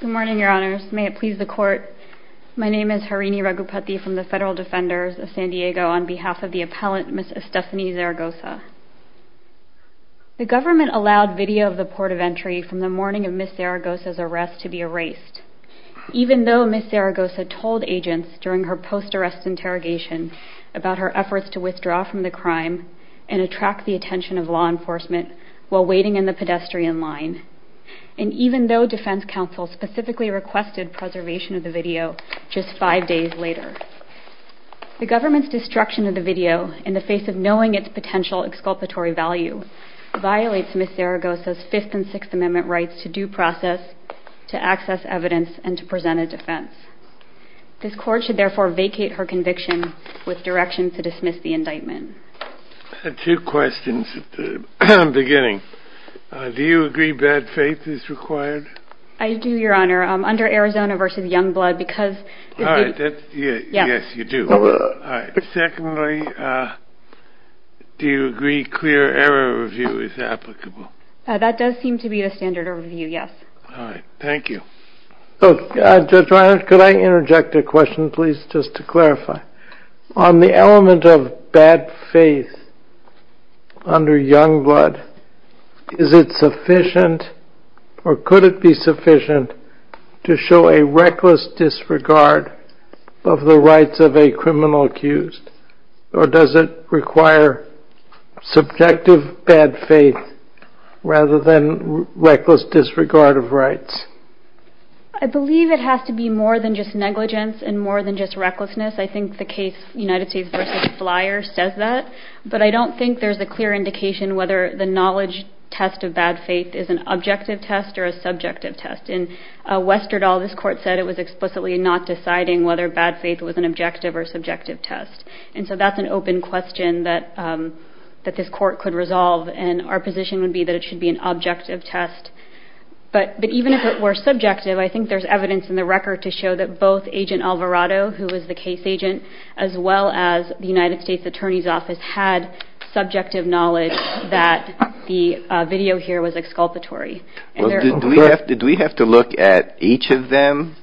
Good morning, Your Honors. May it please the Court, my name is Harini Ragupathy from the Federal Defenders of San Diego on behalf of the appellant Ms. Estefani Zaragoza. The government allowed video of the port of entry from the morning of Ms. Zaragoza's arrest to be erased, even though Ms. Zaragoza told agents during her post-arrest interrogation about her efforts to withdraw from the crime and attract the attention of law enforcement while waiting in the pedestrian line, and even though defense counsel specifically requested preservation of the video just five days later. The government's destruction of the video in the face of knowing its potential exculpatory value violates Ms. Zaragoza's Fifth and Sixth Amendment rights to due process, to access evidence, and to present a defense. This Court should therefore vacate her conviction with direction to dismiss the indictment. I had two questions at the beginning. Do you agree bad faith is required? I do, Your Honor. Under Arizona v. Youngblood, because... All right. Yes, you do. All right. Secondly, do you agree clear error review is applicable? That does seem to be the standard of review, yes. All right. Thank you. Judge Reiner, could I interject a question, please, just to clarify? On the element of bad faith under Youngblood, is it sufficient or could it be sufficient to show a reckless disregard of the rights of a criminal accused, or does it require subjective bad faith rather than reckless disregard of rights? I believe it has to be more than just negligence and more than just recklessness. I think the case United States v. Flyer says that, but I don't think there's a clear indication whether the knowledge test of bad faith is an objective test or a subjective test. In Westerdahl, this court said it was explicitly not deciding whether bad faith was an objective or subjective test, and so that's an open question that this court could resolve, and our position would be that it should be an objective test. But even if it were subjective, I think there's evidence in the record to show that both Agent Alvarado, who was the case agent, as well as the United States Attorney's Office had subjective knowledge that the video here was exculpatory. Well, do we have to look at each of them,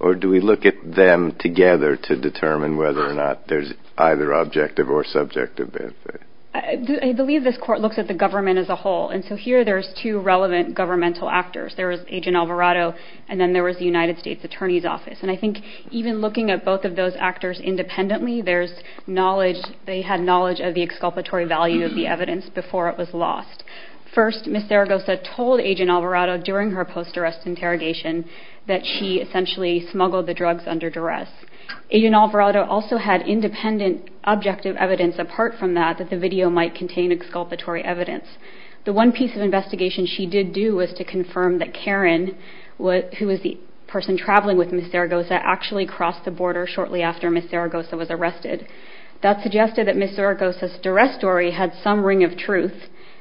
or do we look at them together to determine whether or not there's either objective or subjective bad faith? I believe this court looks at the government as a whole, and so here there's two relevant governmental actors. There was Agent Alvarado, and then there was the United States Attorney's Office, and I think even looking at both of those actors independently, they had knowledge of the exculpatory value of the evidence before it was lost. First, Ms. Zaragoza told Agent Alvarado during her post-arrest interrogation that she essentially smuggled the drugs under duress. Agent Alvarado also had independent objective evidence apart from that that the video might contain exculpatory evidence. The one piece of investigation she did do was to confirm that Karen, who was the person traveling with Ms. Zaragoza, actually crossed the border shortly after Ms. Zaragoza was arrested. That suggested that Ms. Zaragoza's duress story had some ring of truth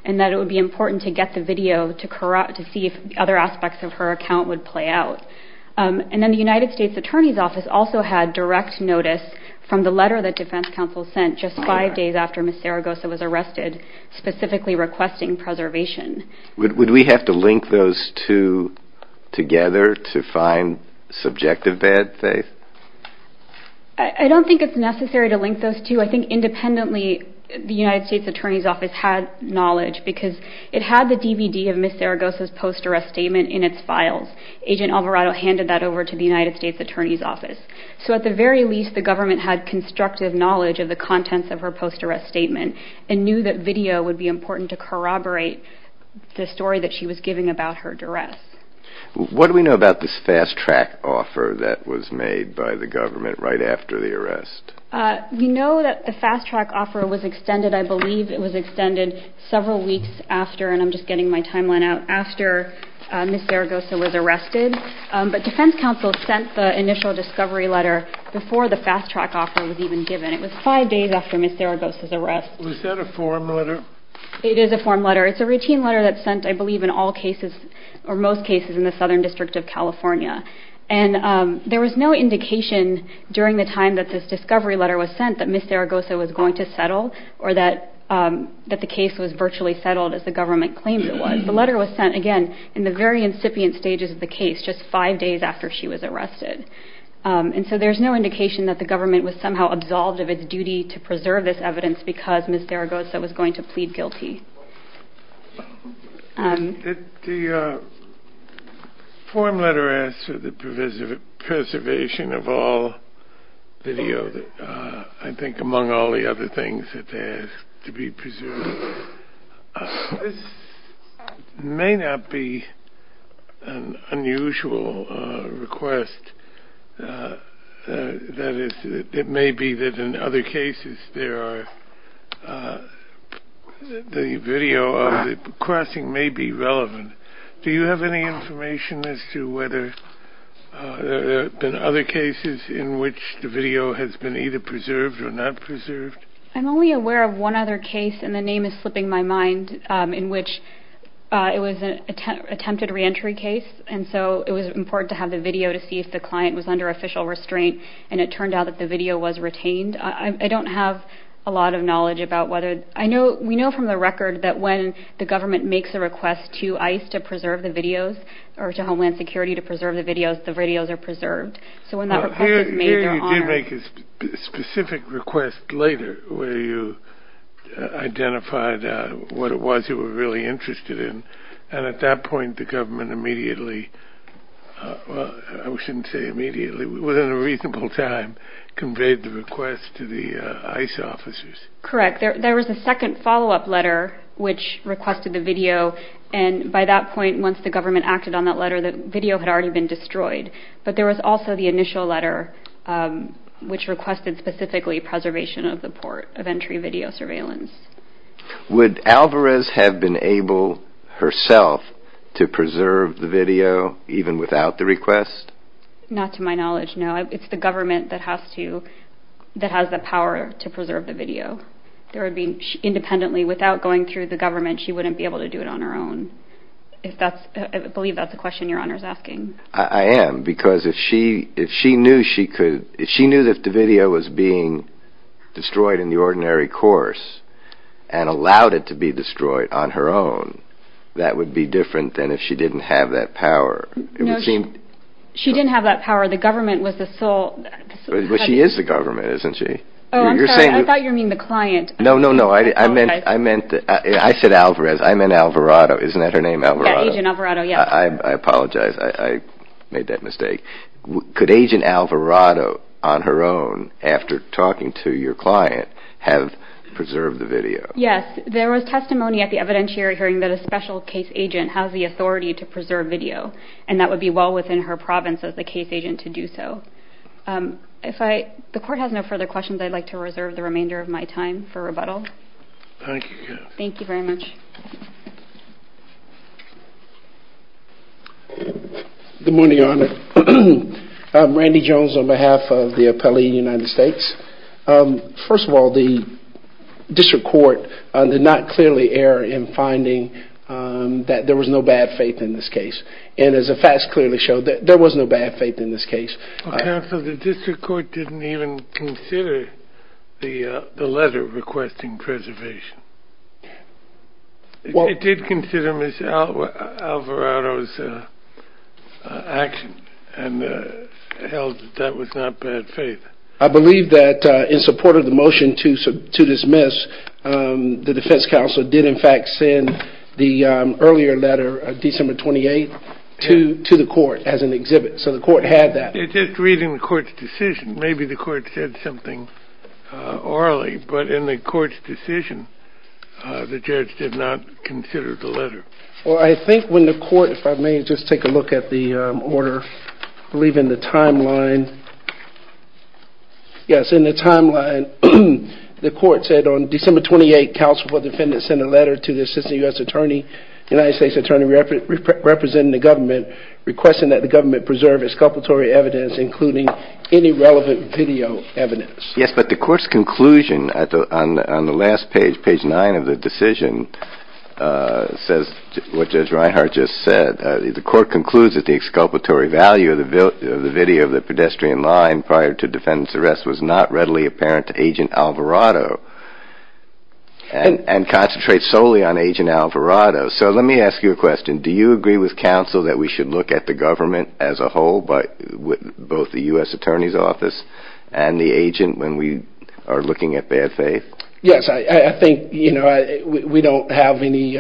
and that it would be important to get the video to see if other aspects of her account would play out. And then the United States Attorney's Office also had direct notice from the letter that defense counsel sent just five days after Ms. Zaragoza was arrested, specifically requesting preservation. Would we have to link those two together to find subjective bad faith? I don't think it's necessary to link those two. I think independently the United States Attorney's Office had knowledge because it had the DVD of Ms. Zaragoza's post-arrest statement in its files. Agent Alvarado handed that over to the United States Attorney's Office. So at the very least the government had constructive knowledge of the contents of her post-arrest statement and knew that video would be important to corroborate the story that she was giving about her duress. What do we know about this fast-track offer that was made by the government right after the arrest? We know that the fast-track offer was extended, I believe it was extended several weeks after, and I'm just getting my timeline out, after Ms. Zaragoza was arrested. But defense counsel sent the initial discovery letter before the fast-track offer was even given. It was five days after Ms. Zaragoza's arrest. Is that a form letter? It is a form letter. It's a routine letter that's sent, I believe, in all cases or most cases in the Southern District of California. And there was no indication during the time that this discovery letter was sent that Ms. Zaragoza was going to settle or that the case was virtually settled as the government claimed it was. The letter was sent, again, in the very incipient stages of the case, just five days after she was arrested. And so there's no indication that the government was somehow absolved of its duty to preserve this evidence because Ms. Zaragoza was going to plead guilty. The form letter asks for the preservation of all video, I think, among all the other things that they ask to be preserved. This may not be an unusual request. That is, it may be that in other cases the video of the crossing may be relevant. Do you have any information as to whether there have been other cases in which the video has been either preserved or not preserved? I'm only aware of one other case, and the name is slipping my mind, in which it was an attempted reentry case. And so it was important to have the video to see if the client was under official restraint, and it turned out that the video was retained. I don't have a lot of knowledge about whether. We know from the record that when the government makes a request to ICE to preserve the videos or to Homeland Security to preserve the videos, the videos are preserved. So when that request is made, they're honored. You did make a specific request later where you identified what it was you were really interested in. And at that point the government immediately, well, I shouldn't say immediately, within a reasonable time conveyed the request to the ICE officers. Correct. There was a second follow-up letter which requested the video, and by that point once the government acted on that letter the video had already been destroyed. But there was also the initial letter which requested specifically preservation of the port of entry video surveillance. Would Alvarez have been able herself to preserve the video even without the request? Not to my knowledge, no. It's the government that has the power to preserve the video. Independently, without going through the government, she wouldn't be able to do it on her own. I believe that's a question Your Honor is asking. I am, because if she knew that the video was being destroyed in the ordinary course and allowed it to be destroyed on her own, that would be different than if she didn't have that power. No, she didn't have that power. The government was the sole... But she is the government, isn't she? Oh, I'm sorry, I thought you were meaning the client. No, no, no, I meant Alvarez. I meant Alvarado. Isn't that her name, Alvarado? Yeah, Agent Alvarado, yes. I apologize, I made that mistake. Could Agent Alvarado, on her own, after talking to your client, have preserved the video? Yes, there was testimony at the evidentiary hearing that a special case agent has the authority to preserve video, and that would be well within her province as the case agent to do so. If the Court has no further questions, I'd like to reserve the remainder of my time for rebuttal. Thank you. Thank you very much. Good morning, Your Honor. Randy Jones on behalf of the appellee in the United States. First of all, the District Court did not clearly err in finding that there was no bad faith in this case. And as the facts clearly show, there was no bad faith in this case. Counsel, the District Court didn't even consider the letter requesting preservation. It did consider Ms. Alvarado's action and held that that was not bad faith. I believe that in support of the motion to dismiss, the Defense Counsel did in fact send the earlier letter of December 28th to the Court as an exhibit. So the Court had that. It's just reading the Court's decision. Maybe the Court said something orally, but in the Court's decision, the Judge did not consider the letter. Well, I think when the Court, if I may just take a look at the order, I believe in the timeline. Yes, in the timeline, the Court said on December 28th, Counsel for the Defendant sent a letter to the Assistant U.S. Attorney, United States Attorney, representing the government, requesting that the government preserve exculpatory evidence, including any relevant video evidence. Yes, but the Court's conclusion on the last page, page 9 of the decision, says what Judge Reinhart just said. The Court concludes that the exculpatory value of the video of the pedestrian line prior to defendant's arrest was not readily apparent to Agent Alvarado and concentrates solely on Agent Alvarado. So let me ask you a question. Do you agree with counsel that we should look at the government as a whole, both the U.S. Attorney's Office and the agent when we are looking at bad faith? Yes, I think we don't have any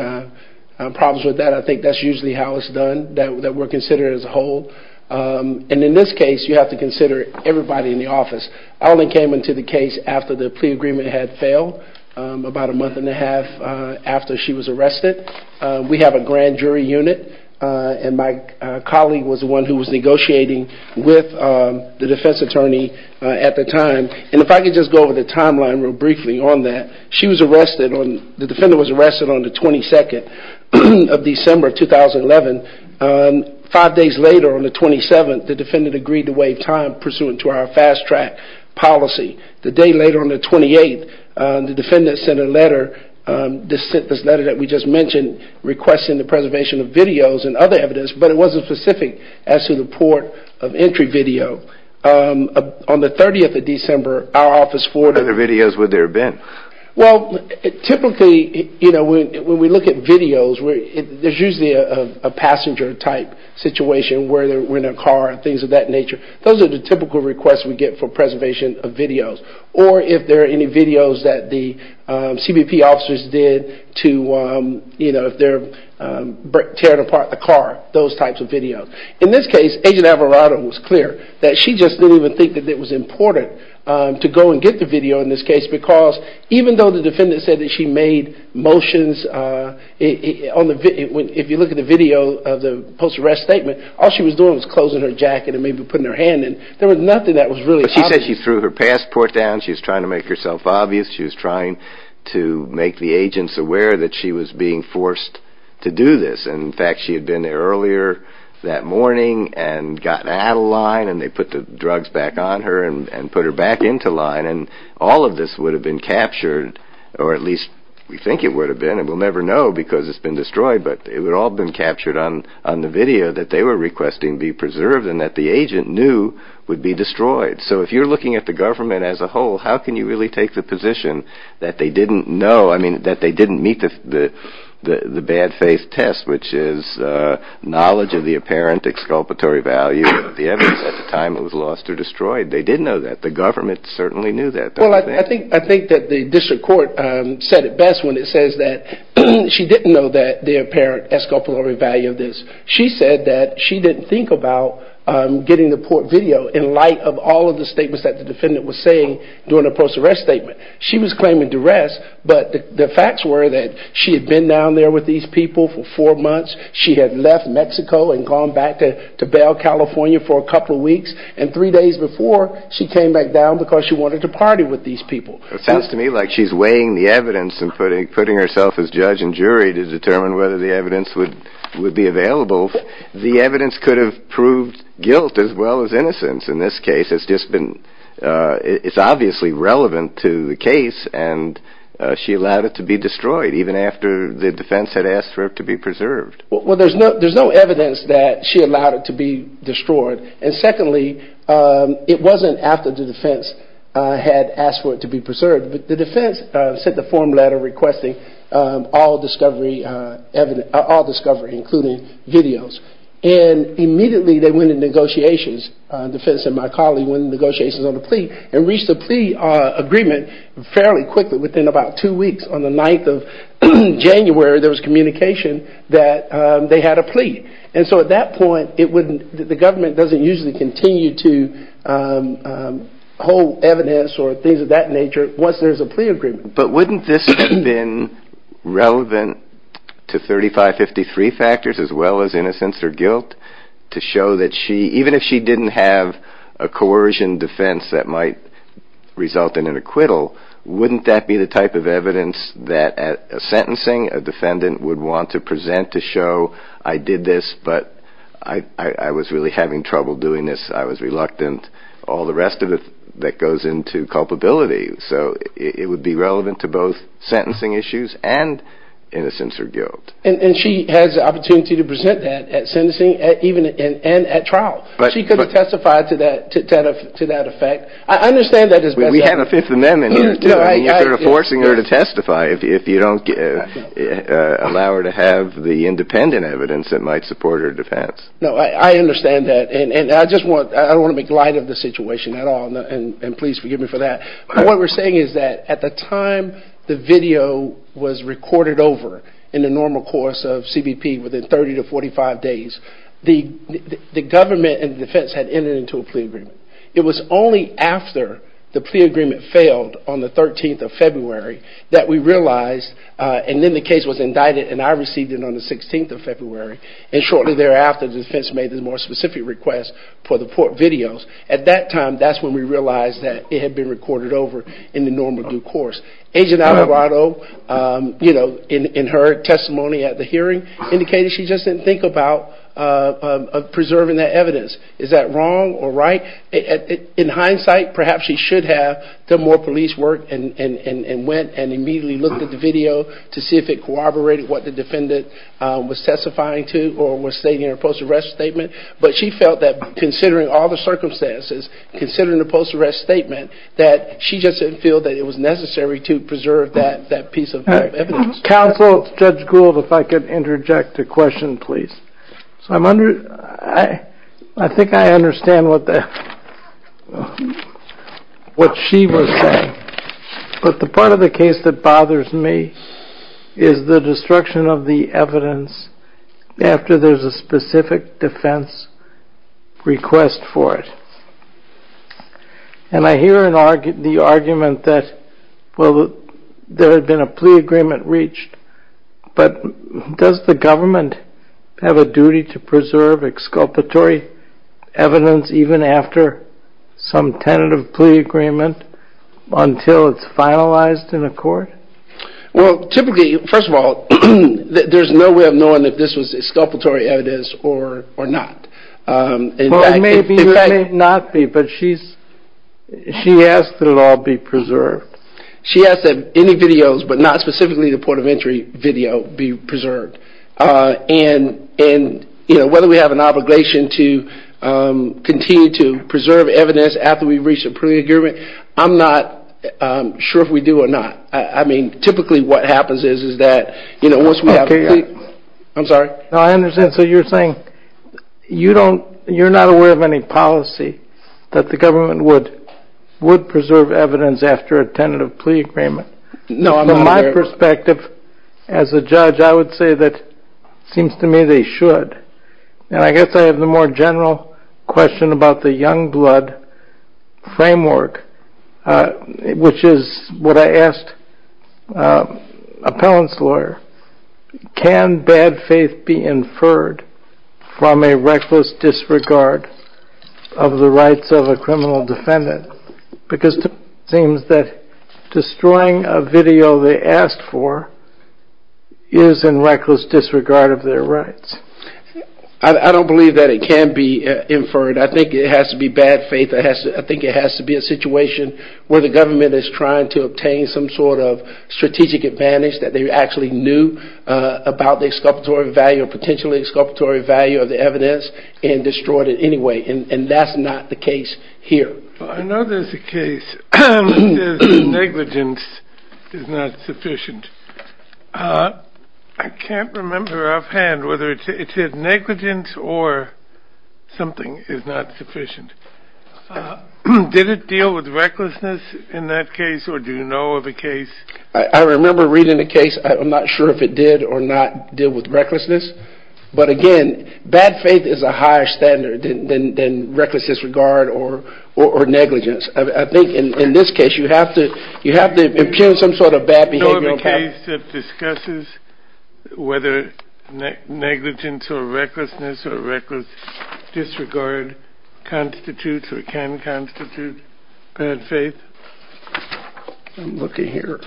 problems with that. I think that's usually how it's done, that we're considered as a whole. And in this case, you have to consider everybody in the office. I only came into the case after the plea agreement had failed, about a month and a half after she was arrested. We have a grand jury unit, and my colleague was the one who was negotiating with the defense attorney at the time. And if I could just go over the timeline real briefly on that. The defendant was arrested on the 22nd of December, 2011. Five days later, on the 27th, the defendant agreed to waive time pursuant to our fast track policy. The day later, on the 28th, the defendant sent a letter, this letter that we just mentioned, requesting the preservation of videos and other evidence, but it wasn't specific as to the port of entry video. On the 30th of December, our office forwarded... What other videos would there have been? Typically, when we look at videos, there's usually a passenger type situation where they're in a car, things of that nature. Those are the typical requests we get for preservation of videos, or if there are any videos that the CBP officers did to tear apart the car, those types of videos. In this case, Agent Alvarado was clear that she just didn't even think that it was important to go and get the video in this case, because even though the defendant said that she made motions, if you look at the video of the post-arrest statement, all she was doing was closing her jacket and maybe putting her hand in. There was nothing that was really obvious. She said she threw her passport down. She was trying to make herself obvious. She was trying to make the agents aware that she was being forced to do this. In fact, she had been there earlier that morning and gotten out of line, and they put the drugs back on her and put her back into line. And all of this would have been captured, or at least we think it would have been, and we'll never know because it's been destroyed, but it would all have been captured on the video that they were requesting be preserved and that the agent knew would be destroyed. So if you're looking at the government as a whole, how can you really take the position that they didn't know, I mean, that they didn't meet the bad faith test, which is knowledge of the apparent exculpatory value of the evidence at the time it was lost or destroyed? They did know that. The government certainly knew that. Well, I think that the district court said it best when it says that she didn't know the apparent exculpatory value of this. She said that she didn't think about getting the port video in light of all of the statements that the defendant was saying during the post-arrest statement. She was claiming duress, but the facts were that she had been down there with these people for four months. She had left Mexico and gone back to Bell, California for a couple of weeks, and three days before she came back down because she wanted to party with these people. It sounds to me like she's weighing the evidence and putting herself as judge and jury to determine whether the evidence would be available. The evidence could have proved guilt as well as innocence in this case. It's obviously relevant to the case, and she allowed it to be destroyed, even after the defense had asked for it to be preserved. Secondly, it wasn't after the defense had asked for it to be preserved, but the defense sent a form letter requesting all discovery, including videos. Immediately, they went into negotiations. The defense and my colleague went into negotiations on the plea and reached a plea agreement fairly quickly, within about two weeks. On the 9th of January, there was communication that they had a plea. At that point, the government doesn't usually continue to hold evidence or things of that nature once there's a plea agreement. But wouldn't this have been relevant to 3553 factors, as well as innocence or guilt, to show that even if she didn't have a coercion defense that might result in an acquittal, wouldn't that be the type of evidence that a sentencing, a defendant, would want to present to show, I did this, but I was really having trouble doing this, I was reluctant, all the rest of it that goes into culpability. So it would be relevant to both sentencing issues and innocence or guilt. And she has the opportunity to present that at sentencing and at trial. She could testify to that effect. I understand that as best as I can. You're forcing her to testify if you don't allow her to have the independent evidence that might support her defense. No, I understand that. I don't want to make light of the situation at all, and please forgive me for that. What we're saying is that at the time the video was recorded over in the normal course of CBP within 30 to 45 days, the government and the defense had entered into a plea agreement. It was only after the plea agreement failed on the 13th of February that we realized, and then the case was indicted and I received it on the 16th of February, and shortly thereafter the defense made a more specific request for the court videos. At that time, that's when we realized that it had been recorded over in the normal due course. Agent Alvarado, you know, in her testimony at the hearing, indicated she just didn't think about preserving that evidence. Is that wrong or right? In hindsight, perhaps she should have done more police work and went and immediately looked at the video to see if it corroborated what the defendant was testifying to or was stating in her post-arrest statement, but she felt that considering all the circumstances, considering the post-arrest statement, that she just didn't feel that it was necessary to preserve that piece of evidence. Counsel, Judge Gould, if I could interject a question, please. I think I understand what she was saying, but the part of the case that bothers me is the destruction of the evidence after there's a specific defense request for it. And I hear the argument that, well, there had been a plea agreement reached, but does the government have a duty to preserve exculpatory evidence even after some tentative plea agreement until it's finalized in a court? Well, typically, first of all, there's no way of knowing if this was exculpatory evidence or not. Well, it may or may not be, but she asked that it all be preserved. She asked that any videos, but not specifically the port of entry video, be preserved. And whether we have an obligation to continue to preserve evidence after we've reached a plea agreement, I'm not sure if we do or not. I mean, typically what happens is that once we have a plea—I'm sorry? No, I understand. So you're saying you're not aware of any policy that the government would preserve evidence after a tentative plea agreement? No, I'm not aware of that. From my perspective as a judge, I would say that it seems to me they should. And I guess I have the more general question about the Youngblood framework, which is what I asked an appellant's lawyer. Can bad faith be inferred from a reckless disregard of the rights of a criminal defendant? Because it seems that destroying a video they asked for is in reckless disregard of their rights. I don't believe that it can be inferred. I think it has to be bad faith. I think it has to be a situation where the government is trying to obtain some sort of strategic advantage that they actually knew about the exculpatory value or potentially exculpatory value of the evidence and destroyed it anyway, and that's not the case here. I know there's a case that says negligence is not sufficient. I can't remember offhand whether it said negligence or something is not sufficient. Did it deal with recklessness in that case, or do you know of a case? I remember reading a case. I'm not sure if it did or not deal with recklessness. But again, bad faith is a higher standard than reckless disregard or negligence. I think in this case you have to impugn some sort of bad behavioral pattern. Do you know of a case that discusses whether negligence or recklessness or reckless disregard constitutes or can constitute bad faith? I'm looking here.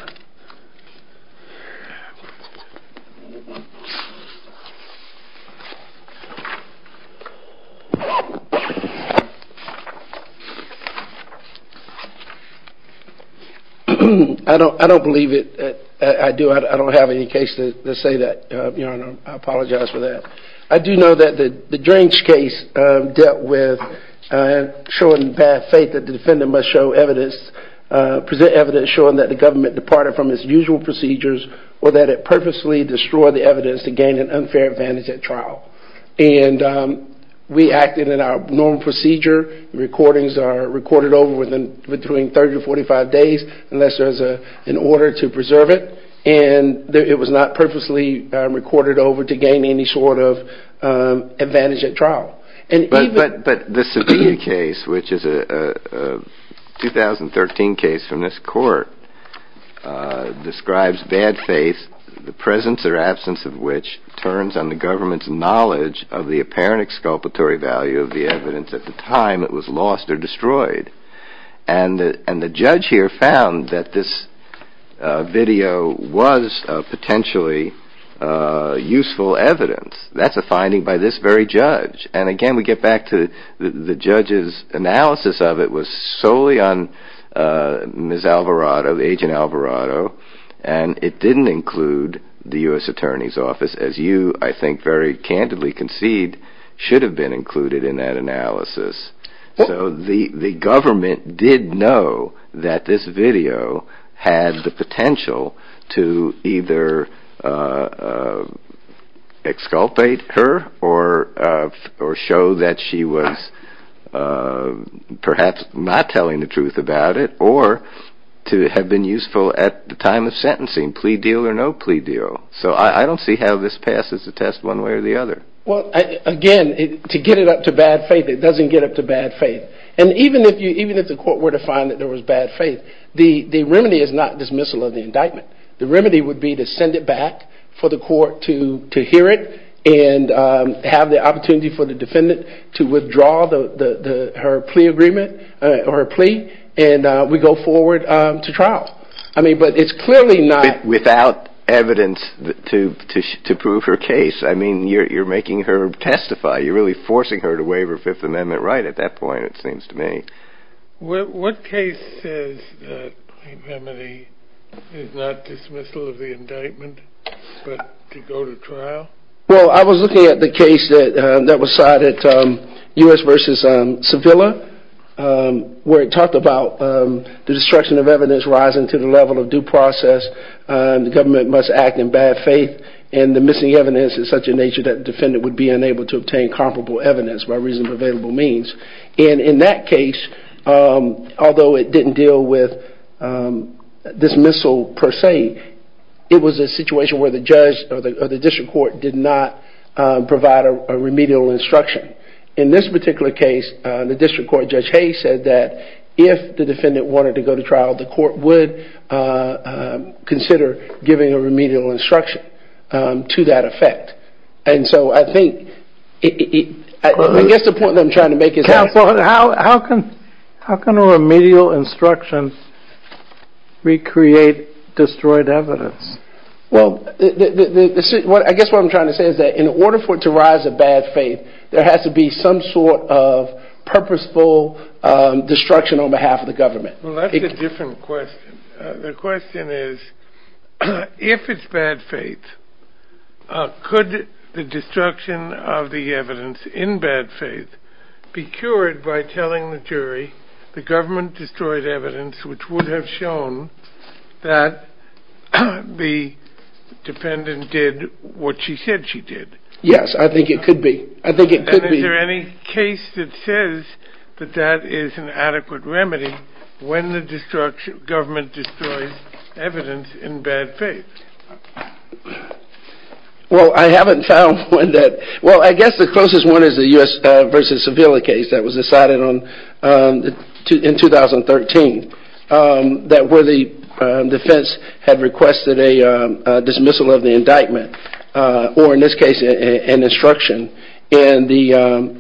I don't believe it. I don't have any case to say that. I apologize for that. I do know that the Drench case dealt with showing bad faith that the defendant must show evidence, present evidence showing that the government departed from its usual procedures or that it purposely destroyed the evidence to gain an unfair advantage at trial. And we acted in our normal procedure. Recordings are recorded over within between 30 to 45 days unless there's an order to preserve it. And it was not purposely recorded over to gain any sort of advantage at trial. But the Sevilla case, which is a 2013 case from this court, describes bad faith, the presence or absence of which turns on the government's knowledge of the apparent exculpatory value of the evidence at the time it was lost or destroyed. And the judge here found that this video was potentially useful evidence. That's a finding by this very judge. And again, we get back to the judge's analysis of it was solely on Ms. Alvarado, Agent Alvarado. And it didn't include the U.S. Attorney's Office, as you, I think, very candidly concede, should have been included in that analysis. So the government did know that this video had the potential to either exculpate her or show that she was perhaps not telling the truth about it or to have been useful at the time of sentencing, plea deal or no plea deal. So I don't see how this passes the test one way or the other. Well, again, to get it up to bad faith, it doesn't get up to bad faith. And even if the court were to find that there was bad faith, the remedy is not dismissal of the indictment. The remedy would be to send it back for the court to hear it and have the opportunity for the defendant to withdraw her plea agreement or plea and we go forward to trial. But it's clearly not... Without evidence to prove her case. I mean, you're making her testify. You're really forcing her to waive her Fifth Amendment right at that point, it seems to me. What case says that the remedy is not dismissal of the indictment but to go to trial? Well, I was looking at the case that was cited, U.S. v. Sevilla, where it talked about the destruction of evidence rising to the level of due process, the government must act in bad faith, and the missing evidence is such a nature that the defendant would be unable to obtain comparable evidence by reasonable means. And in that case, although it didn't deal with dismissal per se, it was a situation where the judge or the district court did not provide a remedial instruction. In this particular case, the district court, Judge Hayes, said that if the defendant wanted to go to trial, the court would consider giving a remedial instruction to that effect. And so I think... I guess the point that I'm trying to make is... Counsel, how can a remedial instruction recreate destroyed evidence? Well, I guess what I'm trying to say is that in order for it to rise to bad faith, there has to be some sort of purposeful destruction on behalf of the government. Well, that's a different question. The question is, if it's bad faith, could the destruction of the evidence in bad faith be cured by telling the jury the government destroyed evidence which would have shown that the defendant did what she said she did? Yes, I think it could be. And is there any case that says that that is an adequate remedy when the government destroys evidence in bad faith? Well, I haven't found one that... Well, I guess the closest one is the U.S. v. Sevilla case that was decided in 2013, where the defense had requested a dismissal of the indictment. Or in this case, an instruction. And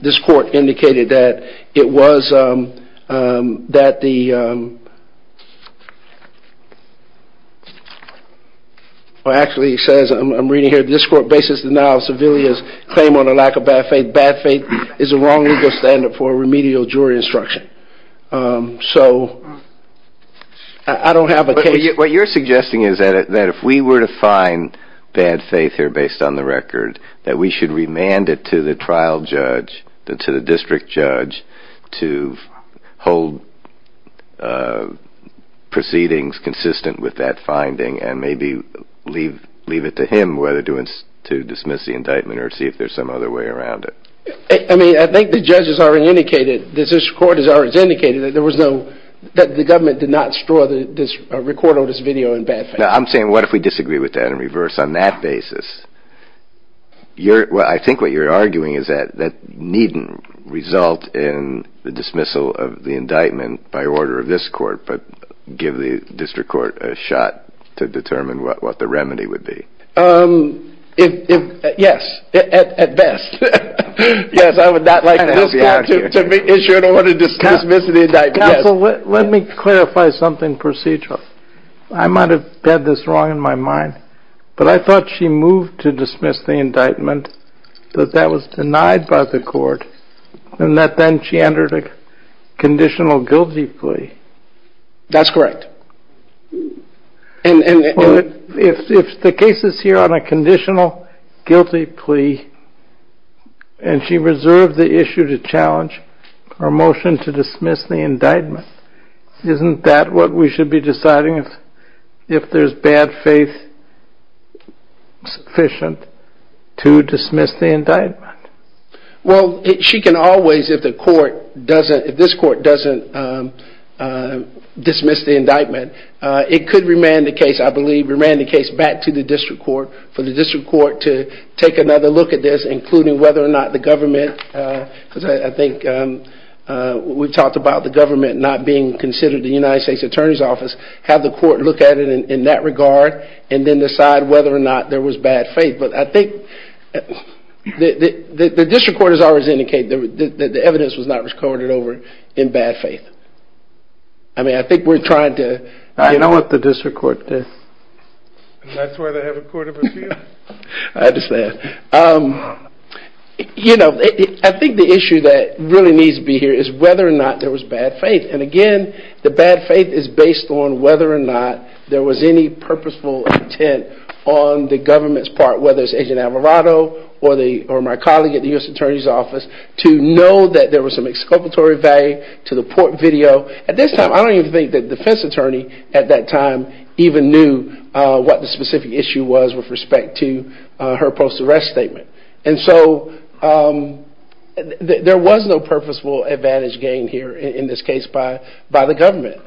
this court indicated that it was that the... Actually, it says, I'm reading here, this court bases the denial of Sevilla's claim on a lack of bad faith. Bad faith is a wrong legal standard for remedial jury instruction. So I don't have a case... What you're suggesting is that if we were to find bad faith here based on the record, that we should remand it to the trial judge, to the district judge, to hold proceedings consistent with that finding and maybe leave it to him whether to dismiss the indictment or see if there's some other way around it. I mean, I think the judges already indicated, the district court has already indicated that there was no... that the government did not store this record or this video in bad faith. Now, I'm saying what if we disagree with that and reverse on that basis? I think what you're arguing is that that needn't result in the dismissal of the indictment by order of this court, but give the district court a shot to determine what the remedy would be. Yes, at best. Yes, I would not like to have you out here. To issue an order to dismiss the indictment, yes. Counsel, let me clarify something procedural. I might have had this wrong in my mind, but I thought she moved to dismiss the indictment that that was denied by the court and that then she entered a conditional guilty plea. That's correct. If the case is here on a conditional guilty plea and she reserved the issue to challenge her motion to dismiss the indictment, isn't that what we should be deciding if there's bad faith sufficient to dismiss the indictment? Well, she can always, if this court doesn't dismiss the indictment, it could remand the case, I believe, remand the case back to the district court for the district court to take another look at this, including whether or not the government, because I think we've talked about the government not being considered the United States Attorney's Office, have the court look at it in that regard and then decide whether or not there was bad faith. But I think the district court has always indicated that the evidence was not recorded over in bad faith. I mean, I think we're trying to... I know what the district court did. That's why they have a court of appeals. I understand. I think the issue that really needs to be here is whether or not there was bad faith. And again, the bad faith is based on whether or not there was any purposeful intent on the government's part, whether it's Agent Alvarado or my colleague at the U.S. Attorney's Office, to know that there was some exculpatory value to the court video. At this time, I don't even think the defense attorney at that time even knew what the specific issue was with respect to her post-arrest statement. And so there was no purposeful advantage gained here, in this case, by the government.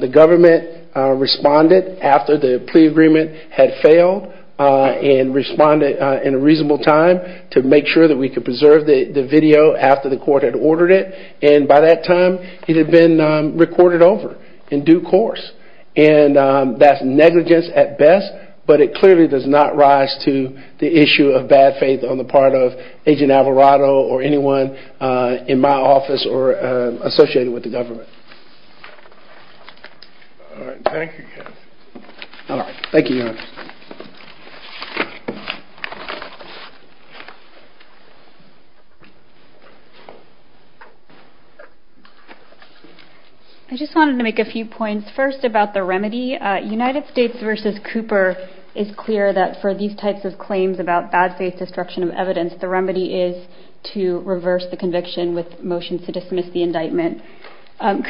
The government responded after the plea agreement had failed and responded in a reasonable time to make sure that we could preserve the video after the court had ordered it. And by that time, it had been recorded over in due course. And that's negligence at best, but it clearly does not rise to the issue of bad faith on the part of Agent Alvarado or anyone in my office or associated with the government. All right. Thank you, Kevin. All right. Thank you, Your Honor. I just wanted to make a few points first about the remedy. United States v. Cooper is clear that for these types of claims about bad faith destruction of evidence, the remedy is to reverse the conviction with motions to dismiss the indictment.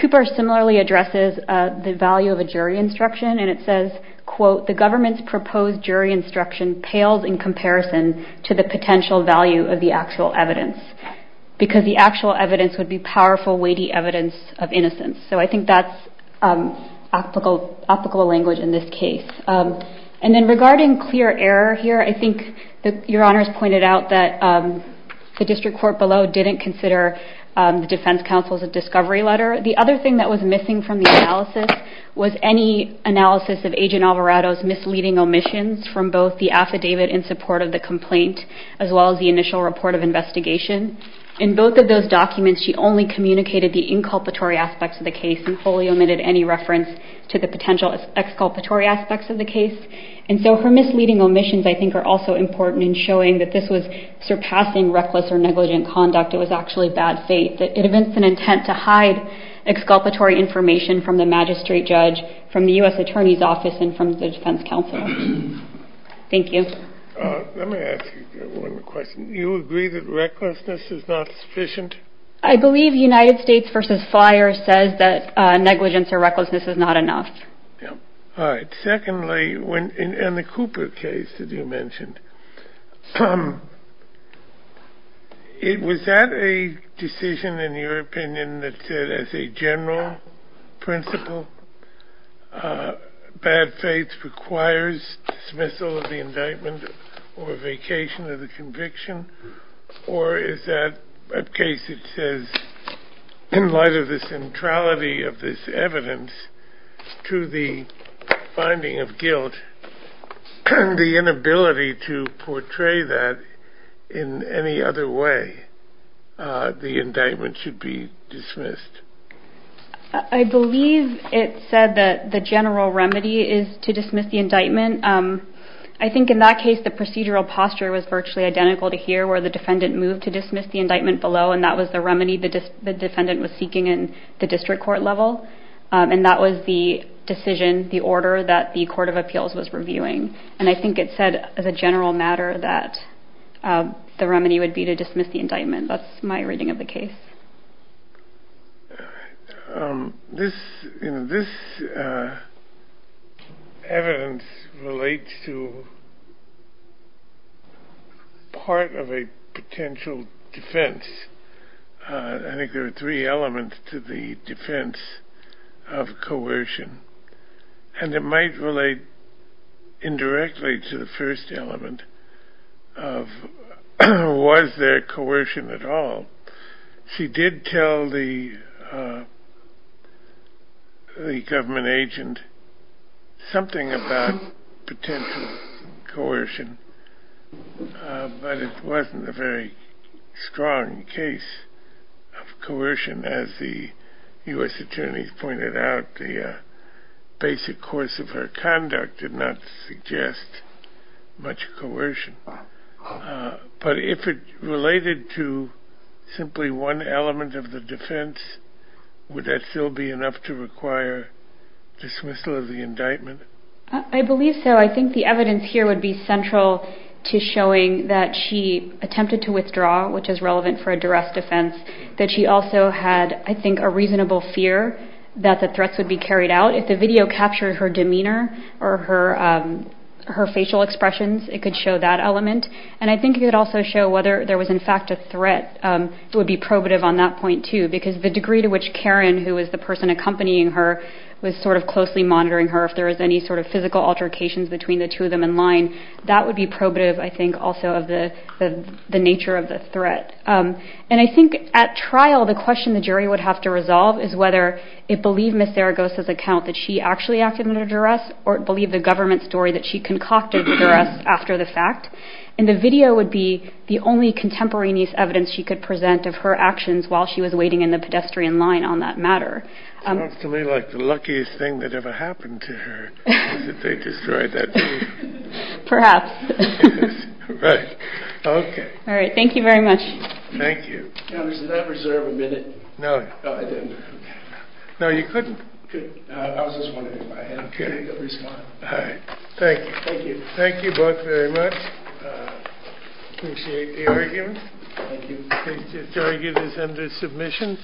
Cooper similarly addresses the value of a jury instruction, and it says, quote, the government's proposed jury instruction pales in comparison to the potential value of the actual evidence because the actual evidence would be powerful, weighty evidence of innocence. So I think that's applicable language in this case. And then regarding clear error here, I think Your Honor has pointed out that the district court below didn't consider the defense counsel's a discovery letter. The other thing that was missing from the analysis was any analysis of Agent Alvarado's misleading omissions from both the affidavit in support of the complaint as well as the initial report of investigation. In both of those documents, she only communicated the inculpatory aspects of the case and fully omitted any reference to the potential exculpatory aspects of the case. And so her misleading omissions I think are also important in showing that this was surpassing reckless or negligent conduct. It was actually bad faith. It evinced an intent to hide exculpatory information from the magistrate judge, from the U.S. Attorney's Office, and from the defense counsel. Thank you. Let me ask you one more question. Do you agree that recklessness is not sufficient? I believe United States v. Fyre says that negligence or recklessness is not enough. All right. Secondly, in the Cooper case that you mentioned, was that a decision, in your opinion, that said as a general principle bad faith requires dismissal of the indictment or vacation of the conviction? Or is that a case that says in light of the centrality of this evidence to the finding of guilt, the inability to portray that in any other way, the indictment should be dismissed? I believe it said that the general remedy is to dismiss the indictment. I think in that case the procedural posture was virtually identical to here where the defendant moved to dismiss the indictment below, and that was the remedy the defendant was seeking in the district court level. And that was the decision, the order, that the Court of Appeals was reviewing. And I think it said as a general matter that the remedy would be to dismiss the indictment. That's my reading of the case. This evidence relates to part of a potential defense. I think there are three elements to the defense of coercion, and it might relate indirectly to the first element of was there coercion at all. She did tell the government agent something about potential coercion, but it wasn't a very strong case of coercion. As the U.S. attorneys pointed out, the basic course of her conduct did not suggest much coercion. But if it related to simply one element of the defense, would that still be enough to require dismissal of the indictment? I believe so. I think the evidence here would be central to showing that she attempted to withdraw, which is relevant for a duress defense, that she also had, I think, a reasonable fear that the threats would be carried out. If the video captured her demeanor or her facial expressions, it could show that element. And I think it could also show whether there was, in fact, a threat. It would be probative on that point, too, because the degree to which Karen, who was the person accompanying her, was sort of closely monitoring her, if there was any sort of physical altercations between the two of them in line, that would be probative, I think, also of the nature of the threat. And I think at trial, the question the jury would have to resolve is whether it believed Ms. Zaragoza's account that she actually acted under duress or it believed the government story that she concocted the duress after the fact. And the video would be the only contemporaneous evidence she could present of her actions while she was waiting in the pedestrian line on that matter. It sounds to me like the luckiest thing that ever happened to her is that they destroyed that video. Perhaps. Right. Okay. All right. Thank you very much. Thank you. Did I reserve a minute? No. Oh, I didn't. No, you couldn't? Couldn't. I was just wondering if I had a critical response. All right. Thank you. Thank you. Thank you both very much. I appreciate the argument. Thank you. This argument is under submission.